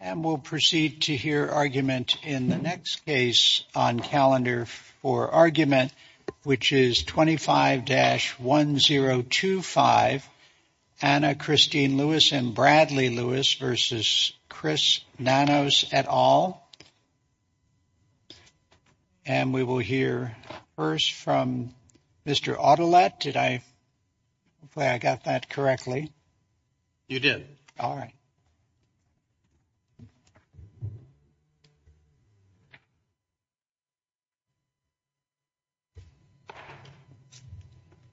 And we'll proceed to hear argument in the next case on calendar for argument, which is 25-1025 Anna Christine Lewis and Bradley Lewis versus Chris Nanos et al. And we will hear first from Mr. Autolet. Did I play? I got that correctly. You did. All right.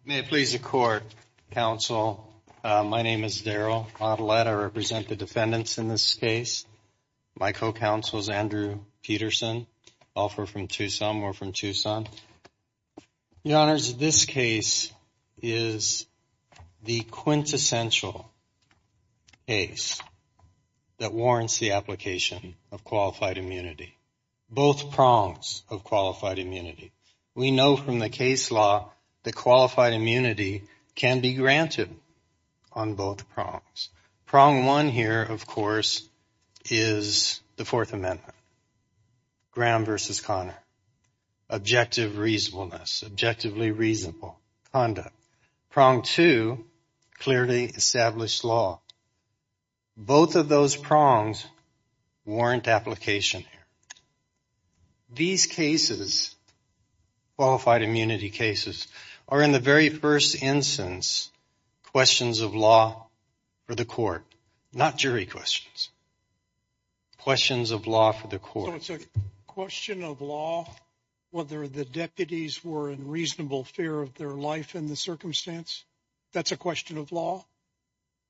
May it please the court. Counsel, my name is Daryl Autolet. I represent the defendants in this case. My co-counsel is Andrew Peterson. Both are from Tucson. We're from Tucson. Your Honors, this case is the quintessential case that warrants the application of qualified immunity, both prongs of qualified immunity. We know from the case law that qualified immunity can be granted on both prongs. Prong one here, of course, is the Fourth Amendment, Graham versus Connor, objective reasonableness, objectively reasonable conduct. Prong two, clearly established law. Both of those prongs warrant application. These cases, qualified immunity cases, are in the very first instance questions of law for the court, not jury questions. Questions of law for the court. So it's a question of law, whether the deputies were in reasonable fear of their life in the circumstance. That's a question of law.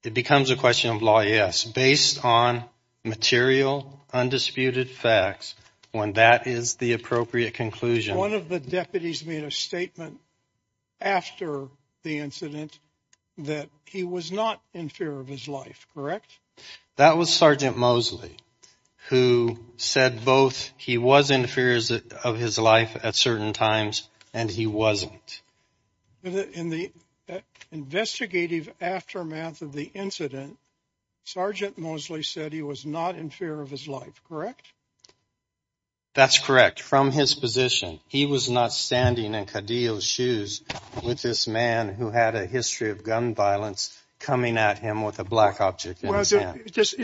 It becomes a question of law. Yes. Based on material undisputed facts. When that is the appropriate conclusion, one of the deputies made a statement after the incident that he was not in fear of his life. Correct. That was Sergeant Mosley, who said both he was in fear of his life at certain times and he wasn't in the investigative aftermath of the incident. Sergeant Mosley said he was not in fear of his life. Correct. That's correct. From his position, he was not standing in Kadio's shoes with this man who had a history of gun violence coming at him with a black object. Is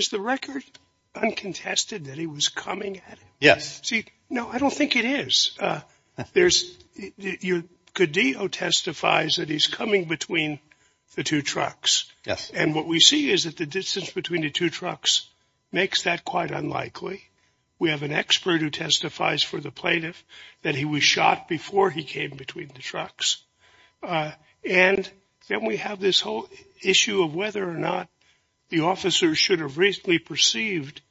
the record uncontested that he was coming? Yes. No, I don't think it is. There's your Kadio testifies that he's coming between the two trucks. Yes. And what we see is that the distance between the two trucks makes that quite unlikely. We have an expert who testifies for the plaintiff that he was shot before he came between the trucks. And then we have this whole issue of whether or not the officers should have recently perceived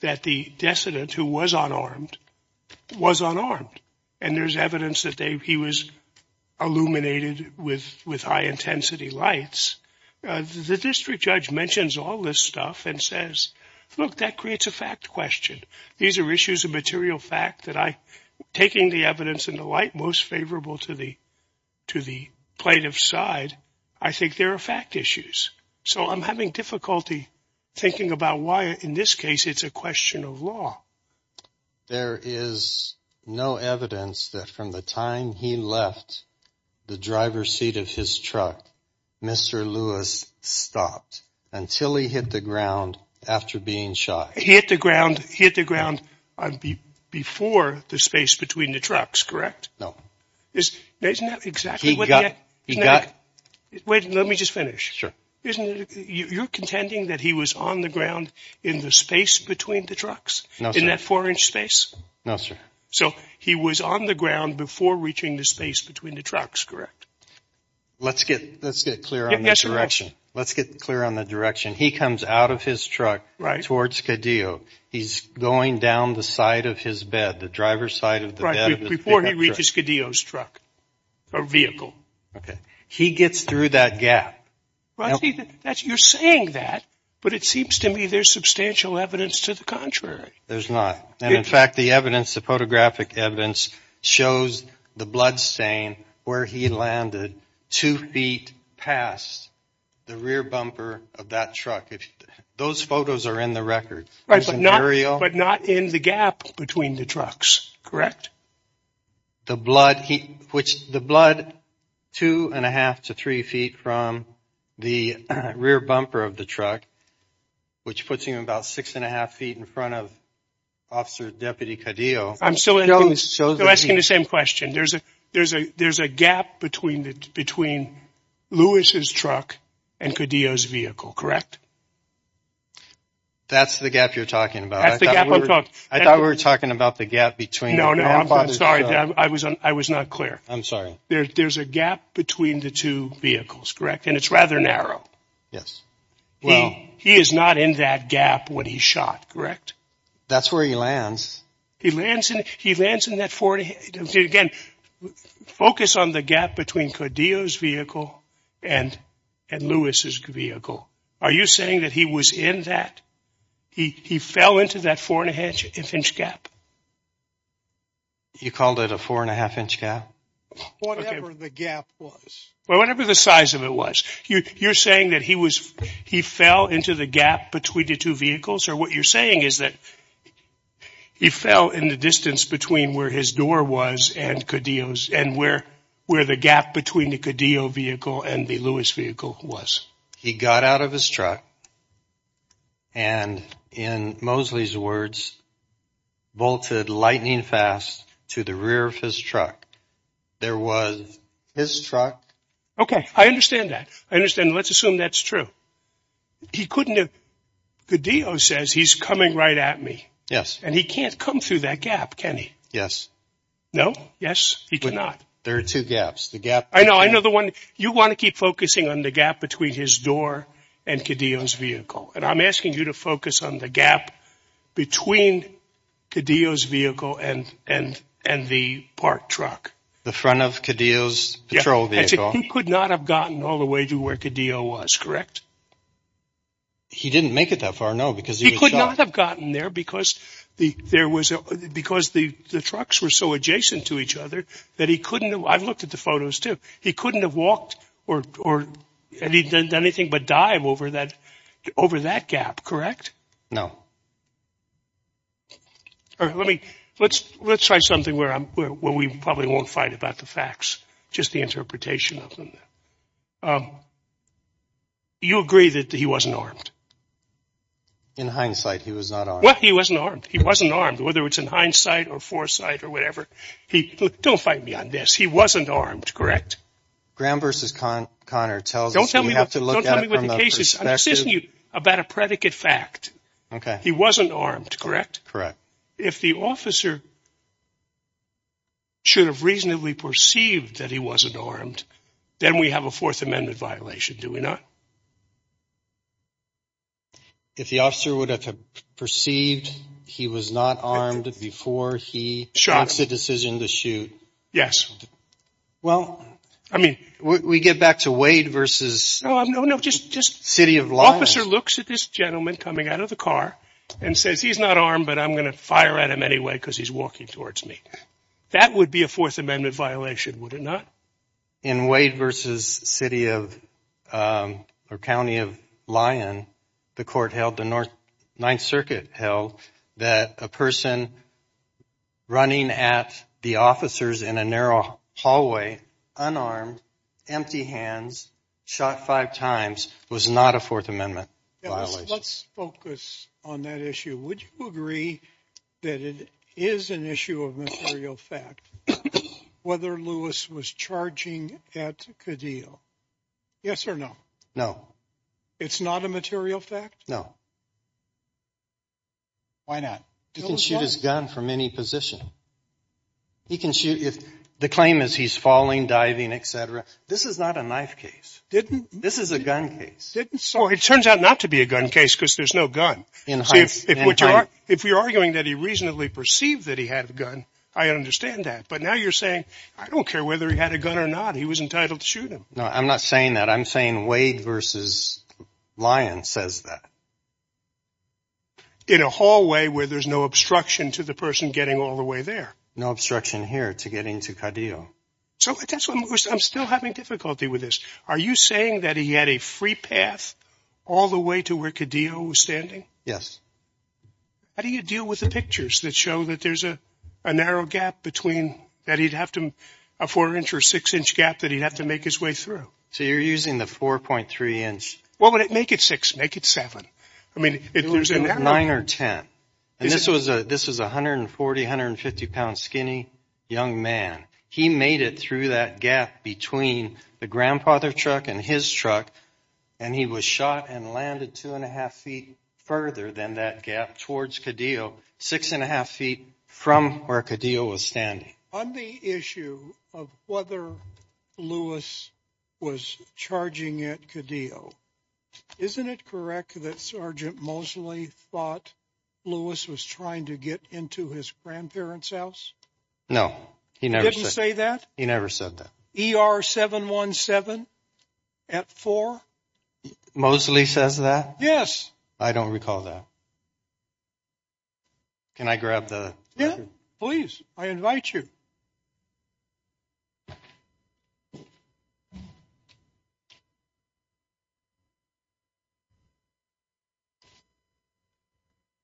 that the decedent who was unarmed was unarmed. And there's evidence that he was illuminated with with high intensity lights. The district judge mentions all this stuff and says, look, that creates a fact question. These are issues of material fact that I taking the evidence in the light most favorable to the to the plaintiff side. I think there are fact issues. So I'm having difficulty thinking about why in this case it's a question of law. There is no evidence that from the time he left the driver's seat of his truck, Mr. Lewis stopped until he hit the ground after being shot. He hit the ground, hit the ground before the space between the trucks, correct? No. Isn't that exactly what he got? He got it. Wait, let me just finish. Sure. Isn't it? You're contending that he was on the ground in the space between the trucks in that four inch space. No, sir. So he was on the ground before reaching the space between the trucks. Correct. Let's get let's get clear on this direction. Let's get clear on the direction. He comes out of his truck. Right. Towards Godot. He's going down the side of his bed, the driver's side of the right before he reaches Godot's truck or vehicle. OK, he gets through that gap. You're saying that. But it seems to me there's substantial evidence to the contrary. There's not. And in fact, the evidence, the photographic evidence shows the bloodstain where he landed two feet past the rear bumper of that truck. If those photos are in the record. Right. But not in the gap between the trucks. Correct. The blood, which the blood two and a half to three feet from the rear bumper of the truck, which puts him about six and a half feet in front of Officer Deputy Cadillac. I'm still asking the same question. There's a there's a there's a gap between the between Lewis's truck and Godot's vehicle. Correct. That's the gap you're talking about. I thought we were talking about the gap between. No, no. I'm sorry. I was I was not clear. I'm sorry. There's a gap between the two vehicles. Correct. And it's rather narrow. Yes. Well, he is not in that gap. That's where he lands. He lands and he lands in that Ford again. Focus on the gap between Godot's vehicle and and Lewis's vehicle. Are you saying that he was in that he fell into that four and a half inch gap? You called it a four and a half inch gap. Whatever the gap was. Well, whatever the size of it was, you're saying that he was he fell into the gap between the two vehicles or what you're saying is that he fell in the distance between where his door was and Godot's and where where the gap between the Godot vehicle and the Lewis vehicle was. He got out of his truck and in Mosley's words, bolted lightning fast to the rear of his truck. There was his truck. OK, I understand that. I understand. Let's assume that's true. He couldn't have. Godot says he's coming right at me. Yes. And he can't come through that gap. Can he? Yes. No. Yes, he cannot. There are two gaps, the gap. I know. I know the one you want to keep focusing on the gap between his door and Godot's vehicle. And I'm asking you to focus on the gap between Godot's vehicle and and and the park truck, the front of Godot's patrol vehicle. He could not have gotten all the way to where Godot was, correct? He didn't make it that far. No, because he could not have gotten there because the there was because the trucks were so adjacent to each other that he couldn't. I've looked at the photos, too. He couldn't have walked or anything but dive over that over that gap. Correct? No. Let me let's let's try something where I'm where we probably won't fight about the facts, just the interpretation of them. You agree that he wasn't armed. In hindsight, he was not. Well, he wasn't armed. He wasn't armed, whether it's in hindsight or foresight or whatever. He don't fight me on this. He wasn't armed. Correct. Graham versus Connor tells don't tell me what to look at. This isn't about a predicate fact. OK. He wasn't armed. Correct. Correct. If the officer should have reasonably perceived that he wasn't armed, then we have a Fourth Amendment violation, do we not? If the officer would have perceived he was not armed before he makes a decision to shoot. Yes. Well, I mean, we get back to Wade versus. No, no, no. Just just city of law. Officer looks at this gentleman coming out of the car and says he's not armed, but I'm going to fire at him anyway because he's walking towards me. That would be a Fourth Amendment violation, would it not? In Wade versus city of or county of Lyon, the court held the North Ninth Circuit held that a person running at the officers in a narrow hallway, unarmed, empty hands, shot five times was not a Fourth Amendment violation. Well, let's focus on that issue. Would you agree that it is an issue of material fact whether Lewis was charging at Kadeel? Yes or no? No. It's not a material fact? No. Why not? He can shoot his gun from any position. He can shoot if the claim is he's falling, diving, et cetera. This is not a knife case. Didn't this is a gun case. So it turns out not to be a gun case because there's no gun in which if you're arguing that he reasonably perceived that he had a gun, I understand that. But now you're saying I don't care whether he had a gun or not. He was entitled to shoot him. No, I'm not saying that. I'm saying Wade versus Lyon says that. In a hallway where there's no obstruction to the person getting all the way there. No obstruction here to getting to Kadeel. So that's what I'm still having difficulty with this. Are you saying that he had a free path all the way to where Kadeel was standing? Yes. How do you deal with the pictures that show that there's a narrow gap between that he'd have to a four inch or six inch gap that he'd have to make his way through? So you're using the four point three inch. What would it make it six? Make it seven. I mean, it was a nine or ten. And this was a this was one hundred and forty hundred and fifty pounds skinny young man. He made it through that gap between the grandfather truck and his truck. And he was shot and landed two and a half feet further than that gap towards Kadeel. Six and a half feet from where Kadeel was standing. On the issue of whether Lewis was charging at Kadeel, isn't it correct that Sergeant Mosley thought Lewis was trying to get into his grandparents house? No, he didn't say that. He never said that.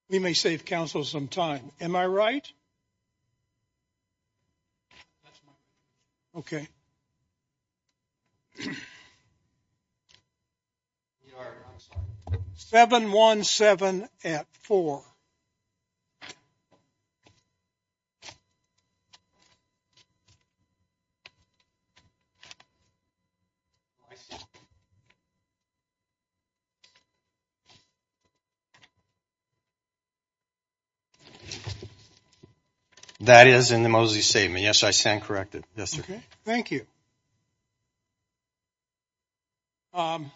We may save council some time. Am I right? OK. Seven one seven at four. That is in the Mosley statement. Yes, I stand corrected. Yes, sir. Thank you. What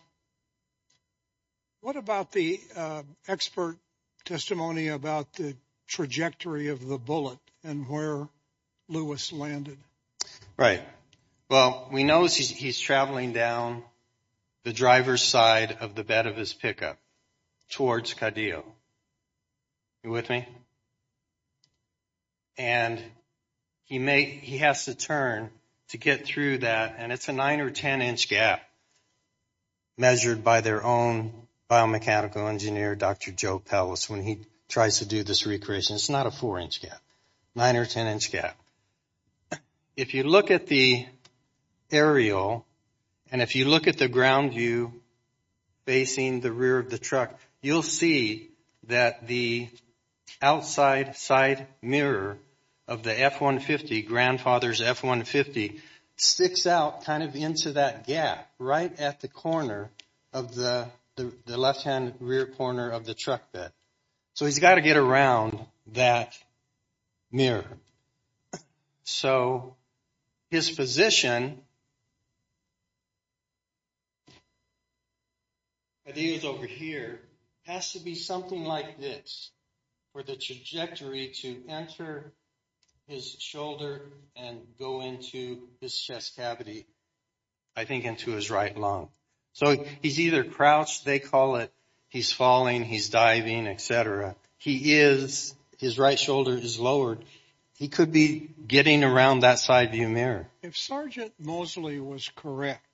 about the expert testimony about the trajectory of the bullet and where Lewis landed? Right. Well, we know he's traveling down the driver's side of the bed of his pickup towards Kadeel. You with me? And he may he has to turn to get through that. And it's a nine or ten inch gap measured by their own biomechanical engineer, Dr. Joe Pellis, when he tries to do this recreation. It's not a four inch gap, nine or ten inch gap. If you look at the aerial and if you look at the ground view facing the rear of the truck, you'll see that the outside side mirror of the F-150 grandfather's F-150 sticks out kind of into that gap right at the corner of the left hand rear corner of the truck bed. So he's got to get around that mirror. So his position. And he is over here has to be something like this for the trajectory to enter his shoulder and go into his chest cavity, I think, into his right lung. So he's either crouched, they call it, he's falling, he's diving, etc. He is his right shoulder is lowered. He could be getting around that side view mirror. If Sergeant Mosley was correct,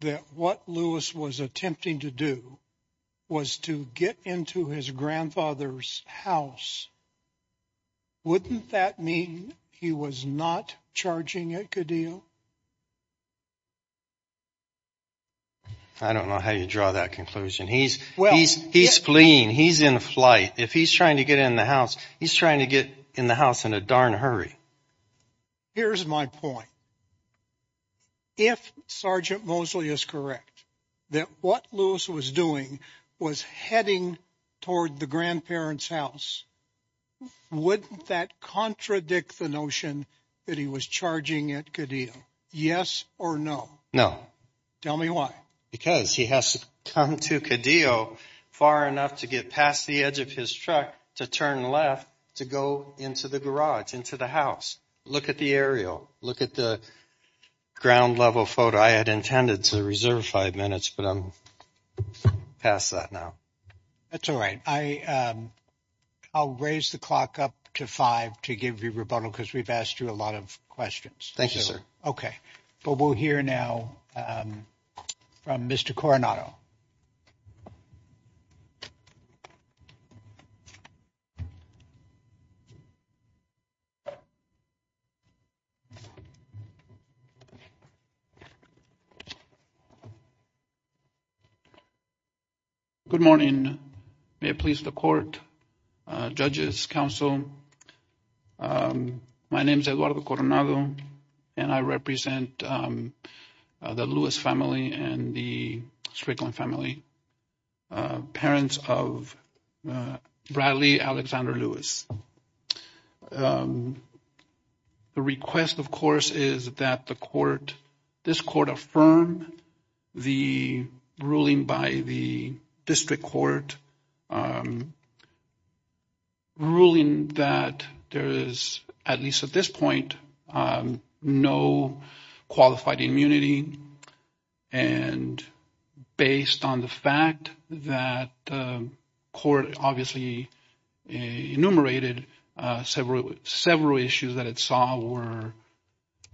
that what Lewis was attempting to do was to get into his grandfather's house. Wouldn't that mean he was not charging a good deal? I don't know how you draw that conclusion. He's well, he's he's fleeing. He's in flight. If he's trying to get in the house, he's trying to get in the house in a darn hurry. Here's my point. If Sergeant Mosley is correct, that what Lewis was doing was heading toward the grandparent's house, wouldn't that contradict the notion that he was charging it? Yes or no. No. Tell me why. Because he has to come to a deal far enough to get past the edge of his truck to turn left to go into the garage, into the house. Look at the aerial. Look at the ground level photo. I had intended to reserve five minutes, but I'm past that now. That's all right. I I'll raise the clock up to five to give you rebuttal because we've asked you a lot of questions. Thank you, sir. OK, but we'll hear now from Mr. Coronado. Good morning. May it please the court. Strickland family. Parents of Bradley Alexander Lewis. The request, of course, is that the court this court affirm the ruling by the district court. Ruling that there is, at least at this point, no qualified immunity and based on the fact that court obviously enumerated several, several issues that it saw were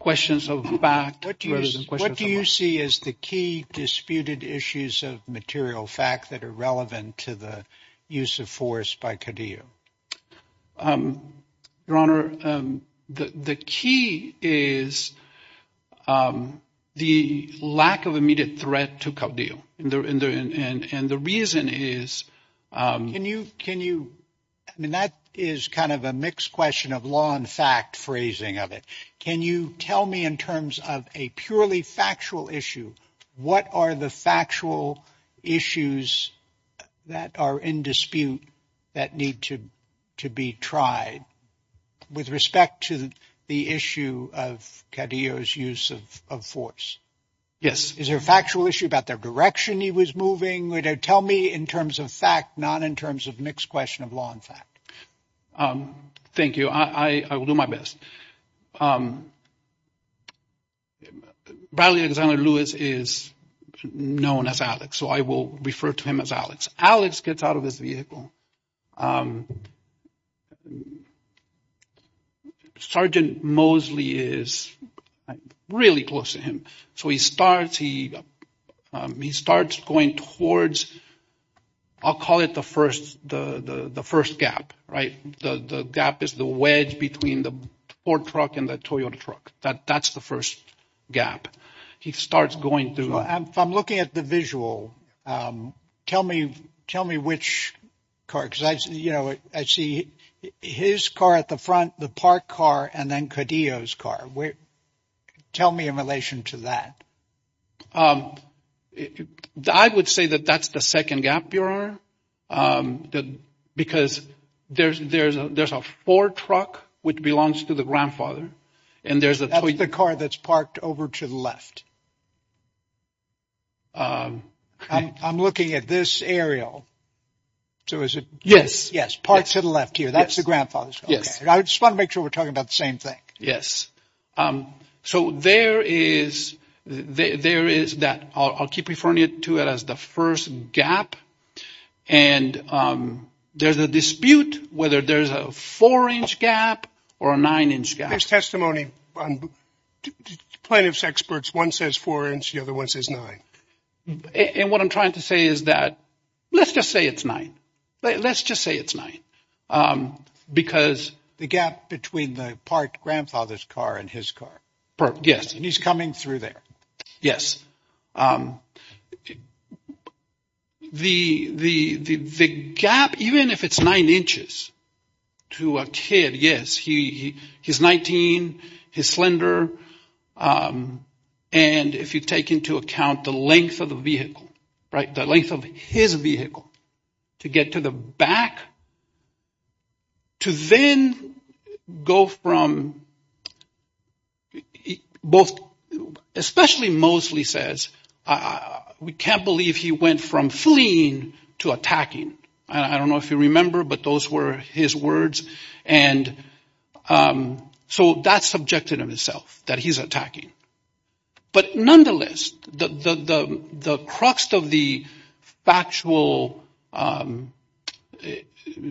questions of fact. What do you see as the key disputed issues of material fact that are relevant to the use of force by Kadyu? Your Honor, the key is the lack of immediate threat to Kadyu. And the reason is, can you can you I mean, that is kind of a mixed question of law and fact phrasing of it. Can you tell me in terms of a purely factual issue, what are the factual issues that are in dispute that need to to be tried with respect to the issue of Kadyu's use of force? Yes. Is there a factual issue about their direction? He was moving. Tell me in terms of fact, not in terms of mixed question of law and fact. Thank you. I will do my best. Bradley Alexander Lewis is known as Alex, so I will refer to him as Alex. Alex gets out of his vehicle. Sergeant Mosley is really close to him. So he starts he he starts going towards I'll call it the first the first gap. Right. The gap is the wedge between the Ford truck and the Toyota truck. That that's the first gap he starts going through. I'm looking at the visual. Tell me. Tell me which car. You know, I see his car at the front, the park car and then Kadyu's car. Tell me in relation to that. I would say that that's the second gap. Your honor, because there's there's there's a Ford truck which belongs to the grandfather and there's the car that's parked over to the left. I'm looking at this aerial. So is it? Yes. Yes. Parts to the left here. That's the grandfather. Yes. I just want to make sure we're talking about the same thing. So there is there is that I'll keep referring to it as the first gap. And there's a dispute whether there's a four inch gap or a nine inch gap. There's testimony on plaintiff's experts. One says four and the other one says nine. And what I'm trying to say is that let's just say it's nine. Let's just say it's nine. Because the gap between the part grandfather's car and his car. Yes. He's coming through there. Yes. The the gap, even if it's nine inches to a kid. Yes. He he's 19. His slender. And if you take into account the length of the vehicle. Right. The length of his vehicle to get to the back. To then go from both especially mostly says we can't believe he went from fleeing to attacking. I don't know if you remember, but those were his words. And so that's subjective in itself that he's attacking. But nonetheless, the crux of the factual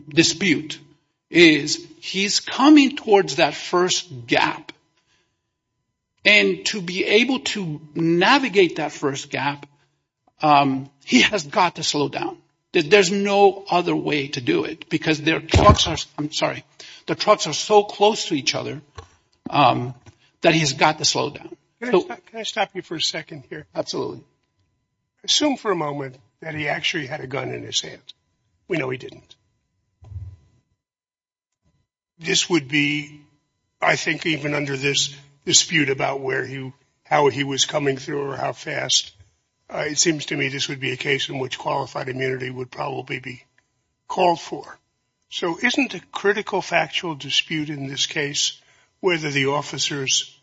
dispute is he's coming towards that first gap. And to be able to navigate that first gap, he has got to slow down. There's no other way to do it because their trucks are I'm sorry, the trucks are so close to each other that he's got to slow down. Can I stop you for a second here? Absolutely. Assume for a moment that he actually had a gun in his hand. We know he didn't. This would be, I think, even under this dispute about where you how he was coming through or how fast it seems to me this would be a case in which qualified immunity would probably be called for. So isn't a critical factual dispute in this case, whether the officers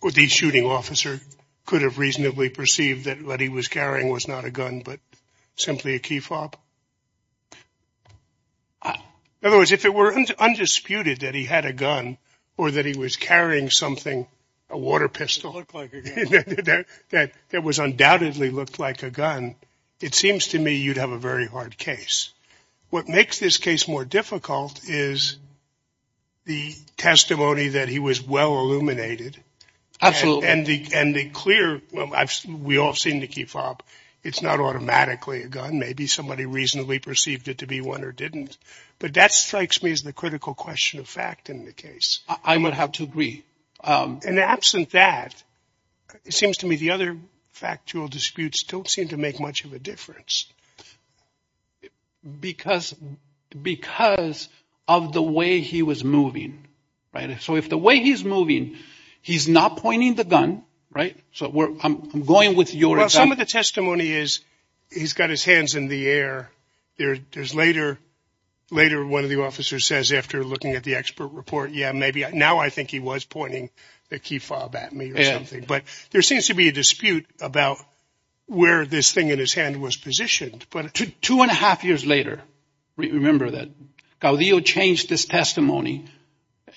or the shooting officer could have reasonably perceived that what he was carrying was not a gun, but simply a key fob? In other words, if it were undisputed that he had a gun or that he was carrying something, a water pistol that that was undoubtedly looked like a gun, it seems to me you'd have a very hard case. What makes this case more difficult is. The testimony that he was well illuminated. Absolutely. And the and the clear. We all seem to keep up. It's not automatically a gun. Maybe somebody reasonably perceived it to be one or didn't. But that strikes me as the critical question of fact in the case. I would have to agree. And absent that, it seems to me the other factual disputes don't seem to make much of a difference. Because because of the way he was moving. Right. So if the way he's moving, he's not pointing the gun. Right. So I'm going with your some of the testimony is he's got his hands in the air. There is later later. One of the officers says after looking at the expert report, yeah, maybe. Now, I think he was pointing the key fob at me or something. But there seems to be a dispute about where this thing in his hand was positioned. But two and a half years later, remember that Gaudio changed this testimony.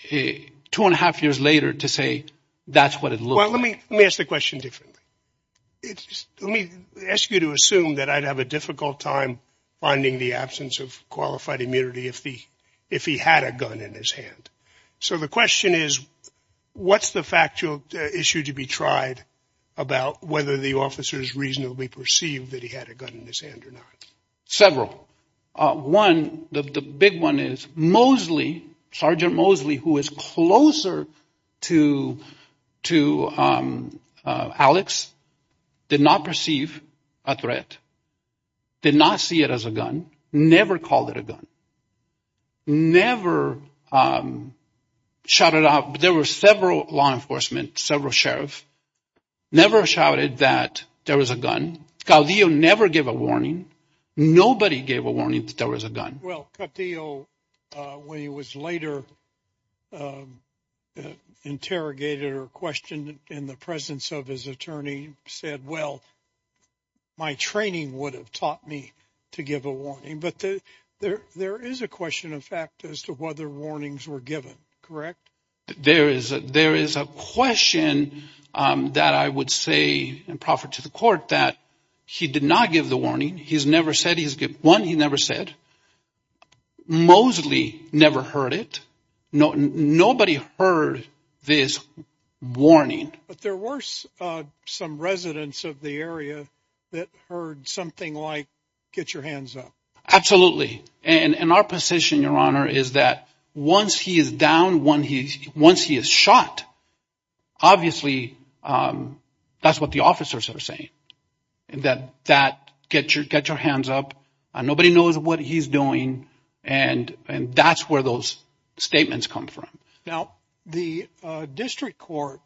Two and a half years later to say that's what it. Well, let me let me ask the question different. Let me ask you to assume that I'd have a difficult time finding the absence of qualified immunity if the if he had a gun in his hand. So the question is, what's the factual issue to be tried about whether the officers reasonably perceive that he had a gun in his hand or not? Several. One, the big one is Mosley. Sergeant Mosley, who is closer to to Alex, did not perceive a threat. Did not see it as a gun. Never called it a gun. Never shouted out. There were several law enforcement, several sheriff. Never shouted that there was a gun. Gaudio never gave a warning. Nobody gave a warning that there was a gun. Well, Gaudio, when he was later interrogated or questioned in the presence of his attorney, said, well, my training would have taught me to give a warning. But there there is a question, in fact, as to whether warnings were given. Correct. There is a there is a question that I would say and proffer to the court that he did not give the warning. He's never said he's won. He never said Mosley never heard it. No, nobody heard this warning. But there were some residents of the area that heard something like get your hands up. Absolutely. And our position, Your Honor, is that once he is down, when he once he is shot, obviously that's what the officers are saying. And that that get your get your hands up. Nobody knows what he's doing. And and that's where those statements come from. Now, the district court,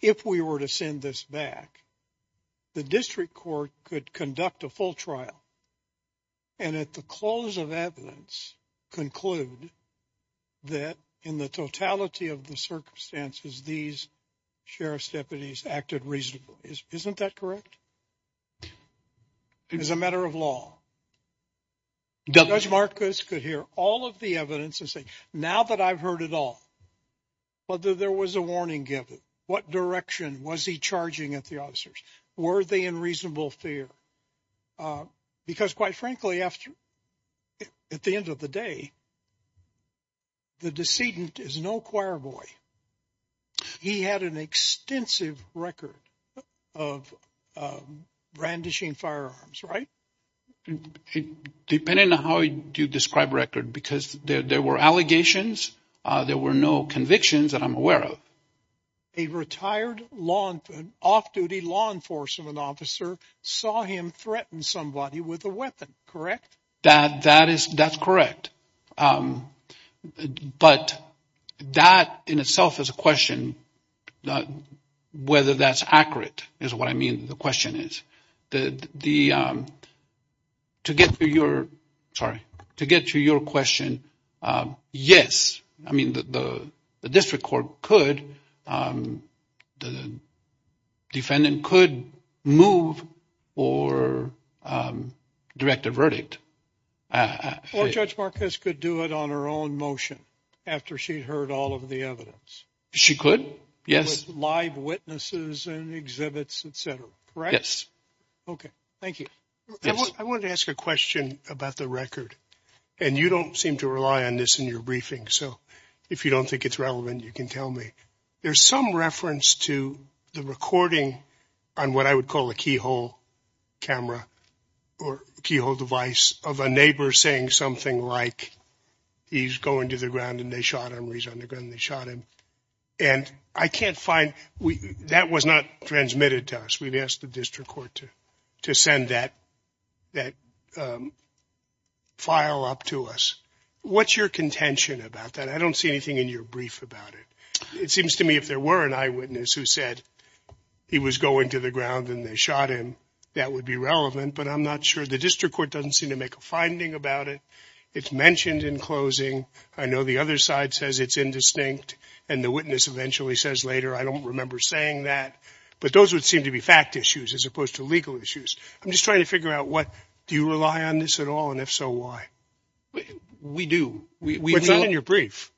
if we were to send this back, the district court could conduct a full trial. And at the close of evidence conclude. That in the totality of the circumstances, these sheriff's deputies acted reasonably, isn't that correct? It is a matter of law. Marcus could hear all of the evidence and say now that I've heard it all. Whether there was a warning given, what direction was he charging at the officers? Were they in reasonable fear? Because, quite frankly, after at the end of the day. The decedent is no choirboy. He had an extensive record of brandishing firearms, right? Depending on how you describe record, because there were allegations. There were no convictions that I'm aware of. A retired law off duty law enforcement officer saw him threaten somebody with a weapon, correct? That that is that's correct. But that in itself is a question. Whether that's accurate is what I mean. The question is that the. To get to your. Sorry to get to your question. Yes. I mean, the district court could the defendant could move or direct a verdict. Judge Marcus could do it on her own motion after she heard all of the evidence. She could. Yes. Live witnesses and exhibits, et cetera. Right. Yes. OK, thank you. I want to ask a question about the record. And you don't seem to rely on this in your briefing. So if you don't think it's relevant, you can tell me. There's some reference to the recording on what I would call a keyhole camera or keyhole device of a neighbor saying something like. He's going to the ground and they shot him. He's on the gun. They shot him. And I can't find that was not transmitted to us. We've asked the district court to to send that that file up to us. What's your contention about that? I don't see anything in your brief about it. It seems to me if there were an eyewitness who said he was going to the ground and they shot him, that would be relevant. But I'm not sure the district court doesn't seem to make a finding about it. It's mentioned in closing. I know the other side says it's indistinct. And the witness eventually says later, I don't remember saying that. But those would seem to be fact issues as opposed to legal issues. I'm just trying to figure out what do you rely on this at all? And if so, why? We do. We read in your brief.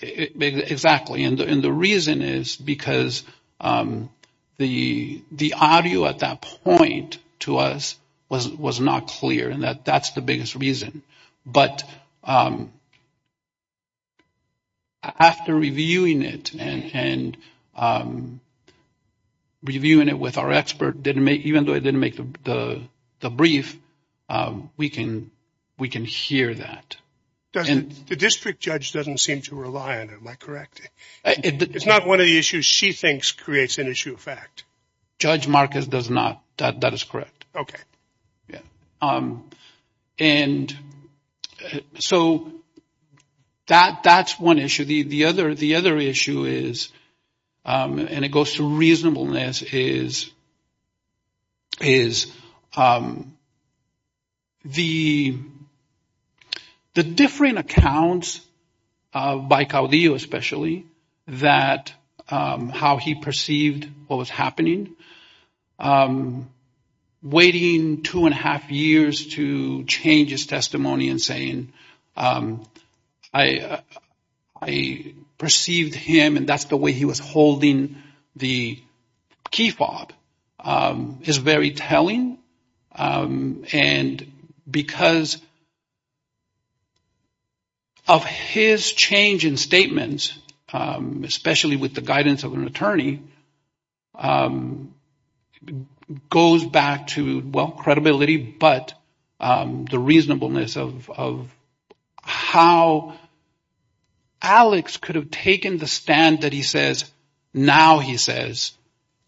Exactly. And the reason is because the the audio at that point to us was was not clear. And that that's the biggest reason. But. After reviewing it and. Reviewing it with our expert didn't make even though I didn't make the brief, we can we can hear that. And the district judge doesn't seem to rely on it. Am I correct? It's not one of the issues she thinks creates an issue of fact. Judge Marcus does not. That is correct. OK. Yeah. And so that that's one issue. The other the other issue is and it goes to reasonableness is. Is. The. The different accounts of by Caudillo, especially that how he perceived what was happening. Waiting two and a half years to change his testimony and saying, I, I perceived him and that's the way he was holding the key fob is very telling. And because. Of his change in statements, especially with the guidance of an attorney. Goes back to, well, credibility, but the reasonableness of how. Alex could have taken the stand that he says now he says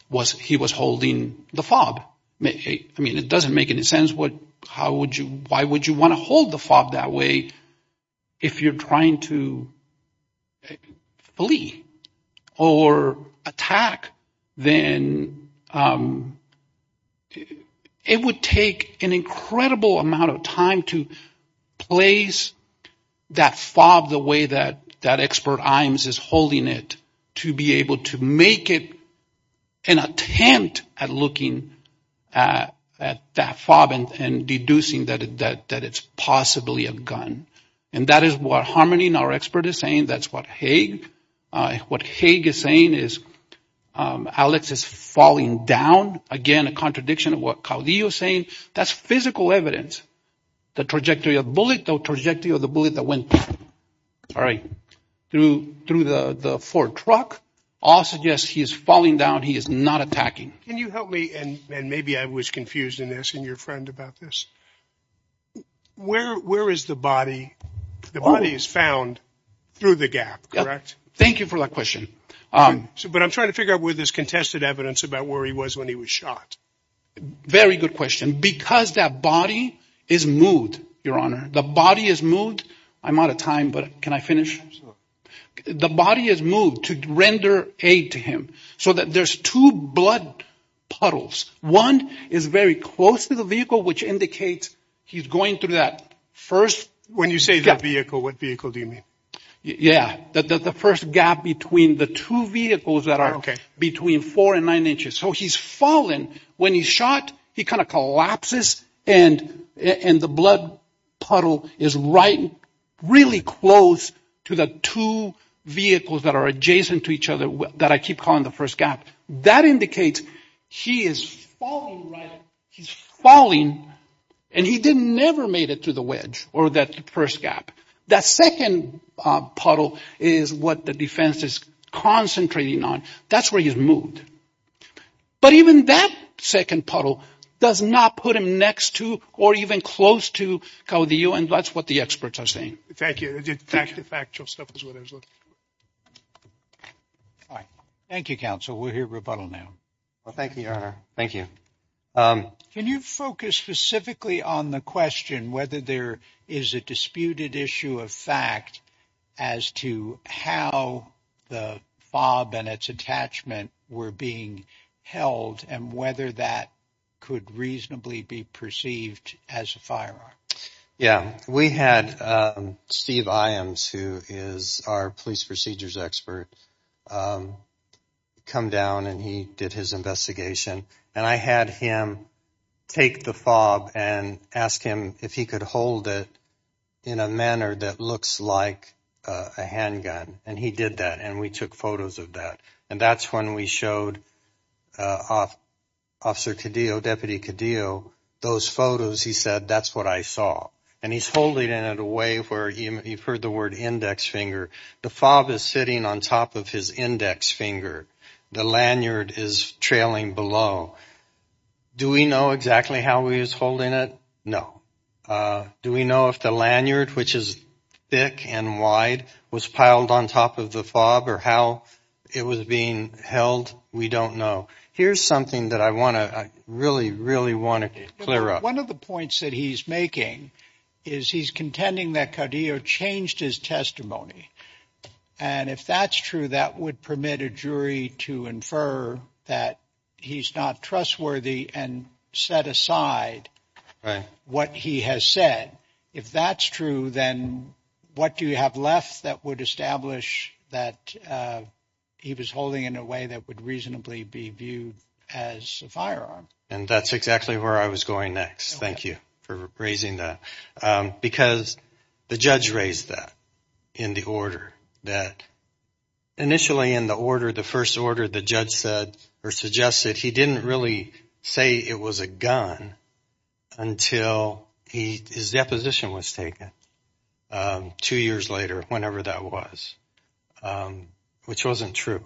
was he was holding the fog. I mean, it doesn't make any sense. What how would you why would you want to hold the fog that way? If you're trying to flee or attack, then it would take an incredible amount of time to place that fog the way that that expert is holding it to be able to make it an attempt at looking at that fob and deducing that that it's possibly a gun. And that is what harmony in our expert is saying. That's what Hague what Hague is saying is Alex is falling down again. A contradiction of what Caudillo is saying. That's physical evidence. The trajectory of bullet, the trajectory of the bullet that went. All right. Through through the Ford truck. Also, yes, he is falling down. He is not attacking. Can you help me? And maybe I was confused in this. Where where is the body? The body is found through the gap, correct? Thank you for that question. But I'm trying to figure out where this contested evidence about where he was when he was shot. Very good question, because that body is moved. Your Honor, the body is moved. I'm out of time, but can I finish? The body is moved to render aid to him so that there's two blood puddles. One is very close to the vehicle, which indicates he's going through that first. When you say that vehicle, what vehicle do you mean? Yeah. The first gap between the two vehicles that are between four and nine inches. So he's fallen when he shot. He kind of collapses. And in the blood puddle is right. Really close to the two vehicles that are adjacent to each other that I keep calling the first gap. That indicates he is falling right. He's falling. And he didn't never made it to the wedge or that first gap. That second puddle is what the defense is concentrating on. That's where he's moved. But even that second puddle does not put him next to or even close to the U.N. That's what the experts are saying. Thank you. The factual stuff is what I was looking for. All right. Thank you, counsel. We'll hear rebuttal now. Well, thank you, Your Honor. Thank you. Can you focus specifically on the question whether there is a disputed issue of fact as to how the fob and its attachment were being held and whether that could reasonably be perceived as a firearm? Yeah, we had Steve Iams, who is our police procedures expert, come down and he did his investigation. And I had him take the fob and ask him if he could hold it in a manner that looks like a handgun. And he did that. And we took photos of that. And that's when we showed Officer Cadillo, Deputy Cadillo, those photos. He said, that's what I saw. And he's holding it in a way where you've heard the word index finger. The fob is sitting on top of his index finger. The lanyard is trailing below. Do we know exactly how he is holding it? No. Do we know if the lanyard, which is thick and wide, was piled on top of the fob or how it was being held? We don't know. Here's something that I want to really, really want to clear up. One of the points that he's making is he's contending that Cadillo changed his testimony. And if that's true, that would permit a jury to infer that he's not trustworthy and set aside what he has said. If that's true, then what do you have left that would establish that he was holding in a way that would reasonably be viewed as a firearm? And that's exactly where I was going next. Thank you for raising that because the judge raised that in the order that initially in the order, the first order, the judge said or suggested he didn't really say it was a gun until his deposition was taken two years later, whenever that was, which wasn't true.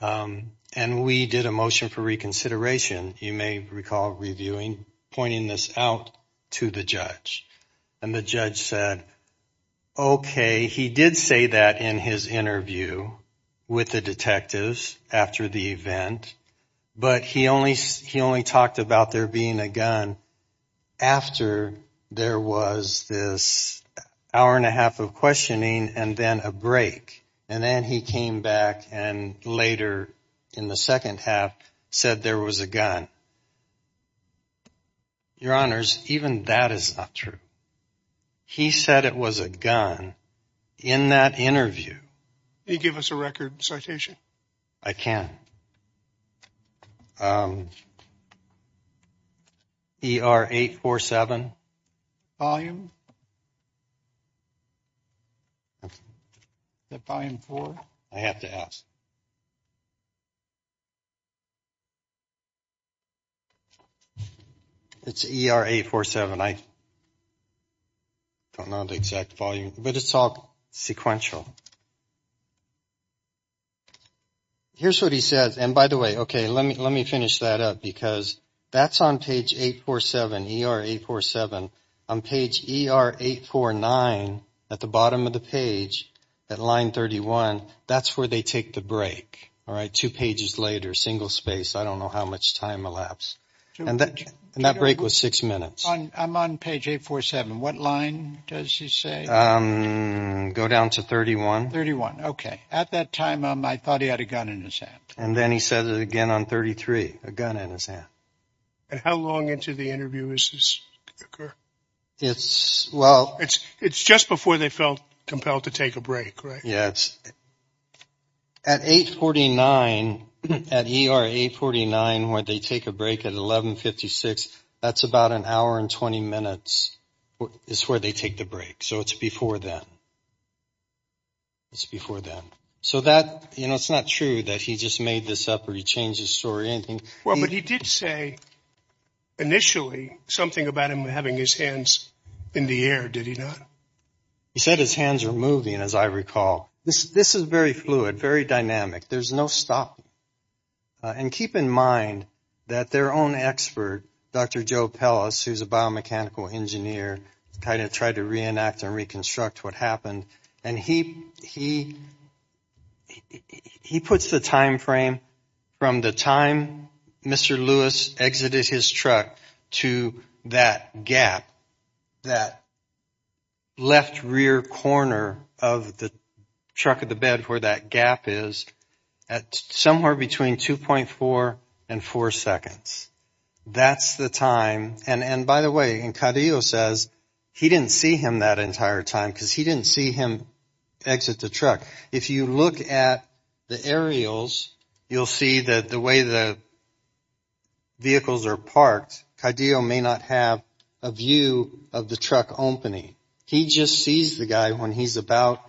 And we did a motion for reconsideration. You may recall reviewing pointing this out to the judge and the judge said, OK, he did say that in his interview with the detectives after the event, but he only he only talked about there being a gun after there was this hour and a half of questioning and then a break. And then he came back and later in the second half said there was a gun. Your honors, even that is not true. He said it was a gun in that interview. He gave us a record citation. I can. E.R. eight or seven volume. The volume for I have to ask. It's E.R. eight or seven. I don't know the exact volume, but it's all sequential. Here's what he says. And by the way, OK, let me let me finish that up, because that's on page eight or seven. E.R. eight or seven on page eight or nine at the bottom of the page at line thirty one. That's where they take the break. All right. Two pages later, single space. I don't know how much time elapsed. And that break was six minutes. I'm on page eight, four, seven. What line does he say? Go down to thirty one. Thirty one. OK. At that time, I thought he had a gun in his hand. And then he said it again on thirty three. A gun in his hand. And how long into the interview is this? It's well, it's it's just before they felt compelled to take a break. Yes. At eight forty nine at eight forty nine where they take a break at eleven fifty six. That's about an hour and 20 minutes is where they take the break. So it's before that. It's before that. So that, you know, it's not true that he just made this up or he changed his story. Anything. Well, but he did say initially something about him having his hands in the air, did he not? He said his hands are moving, as I recall. This this is very fluid, very dynamic. There's no stop. And keep in mind that their own expert, Dr. Joe Pellis, who's a biomechanical engineer, kind of tried to reenact and reconstruct what happened. And he he he puts the time frame from the time Mr. Lewis exited his truck to that gap that. Left rear corner of the truck of the bed where that gap is at somewhere between two point four and four seconds. That's the time. And by the way, and Kadio says he didn't see him that entire time because he didn't see him exit the truck. If you look at the aerials, you'll see that the way the. Vehicles are parked, Kadio may not have a view of the truck opening. He just sees the guy when he's about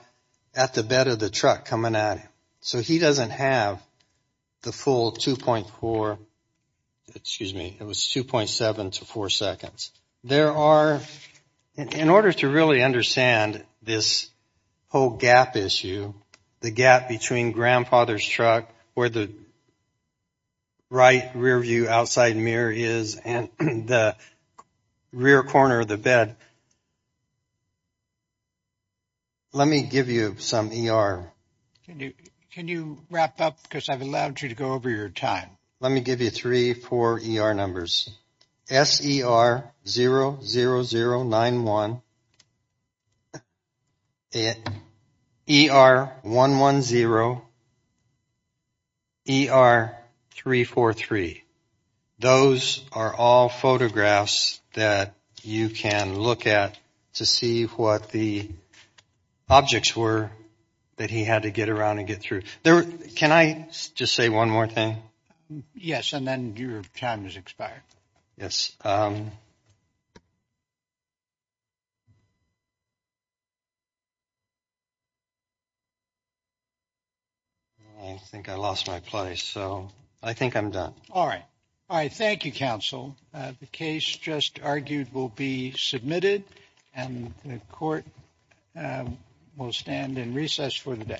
at the bed of the truck coming at him. So he doesn't have the full two point four. Excuse me. It was two point seven to four seconds. There are. In order to really understand this whole gap issue, the gap between grandfather's truck or the. Right rear view, outside mirror is and the rear corner of the bed. Let me give you some ER. Can you can you wrap up because I've allowed you to go over your time. Let me give you three for ER numbers. S.E.R. zero zero zero nine one. A.R. one one zero. E.R. three four three. Those are all photographs that you can look at to see what the objects were that he had to get around and get through there. Can I just say one more thing? Yes. And then your time is expired. Yes. I think I lost my place, so I think I'm done. All right. All right. Thank you, counsel. The case just argued will be submitted and the court will stand in recess for the day. Thank you.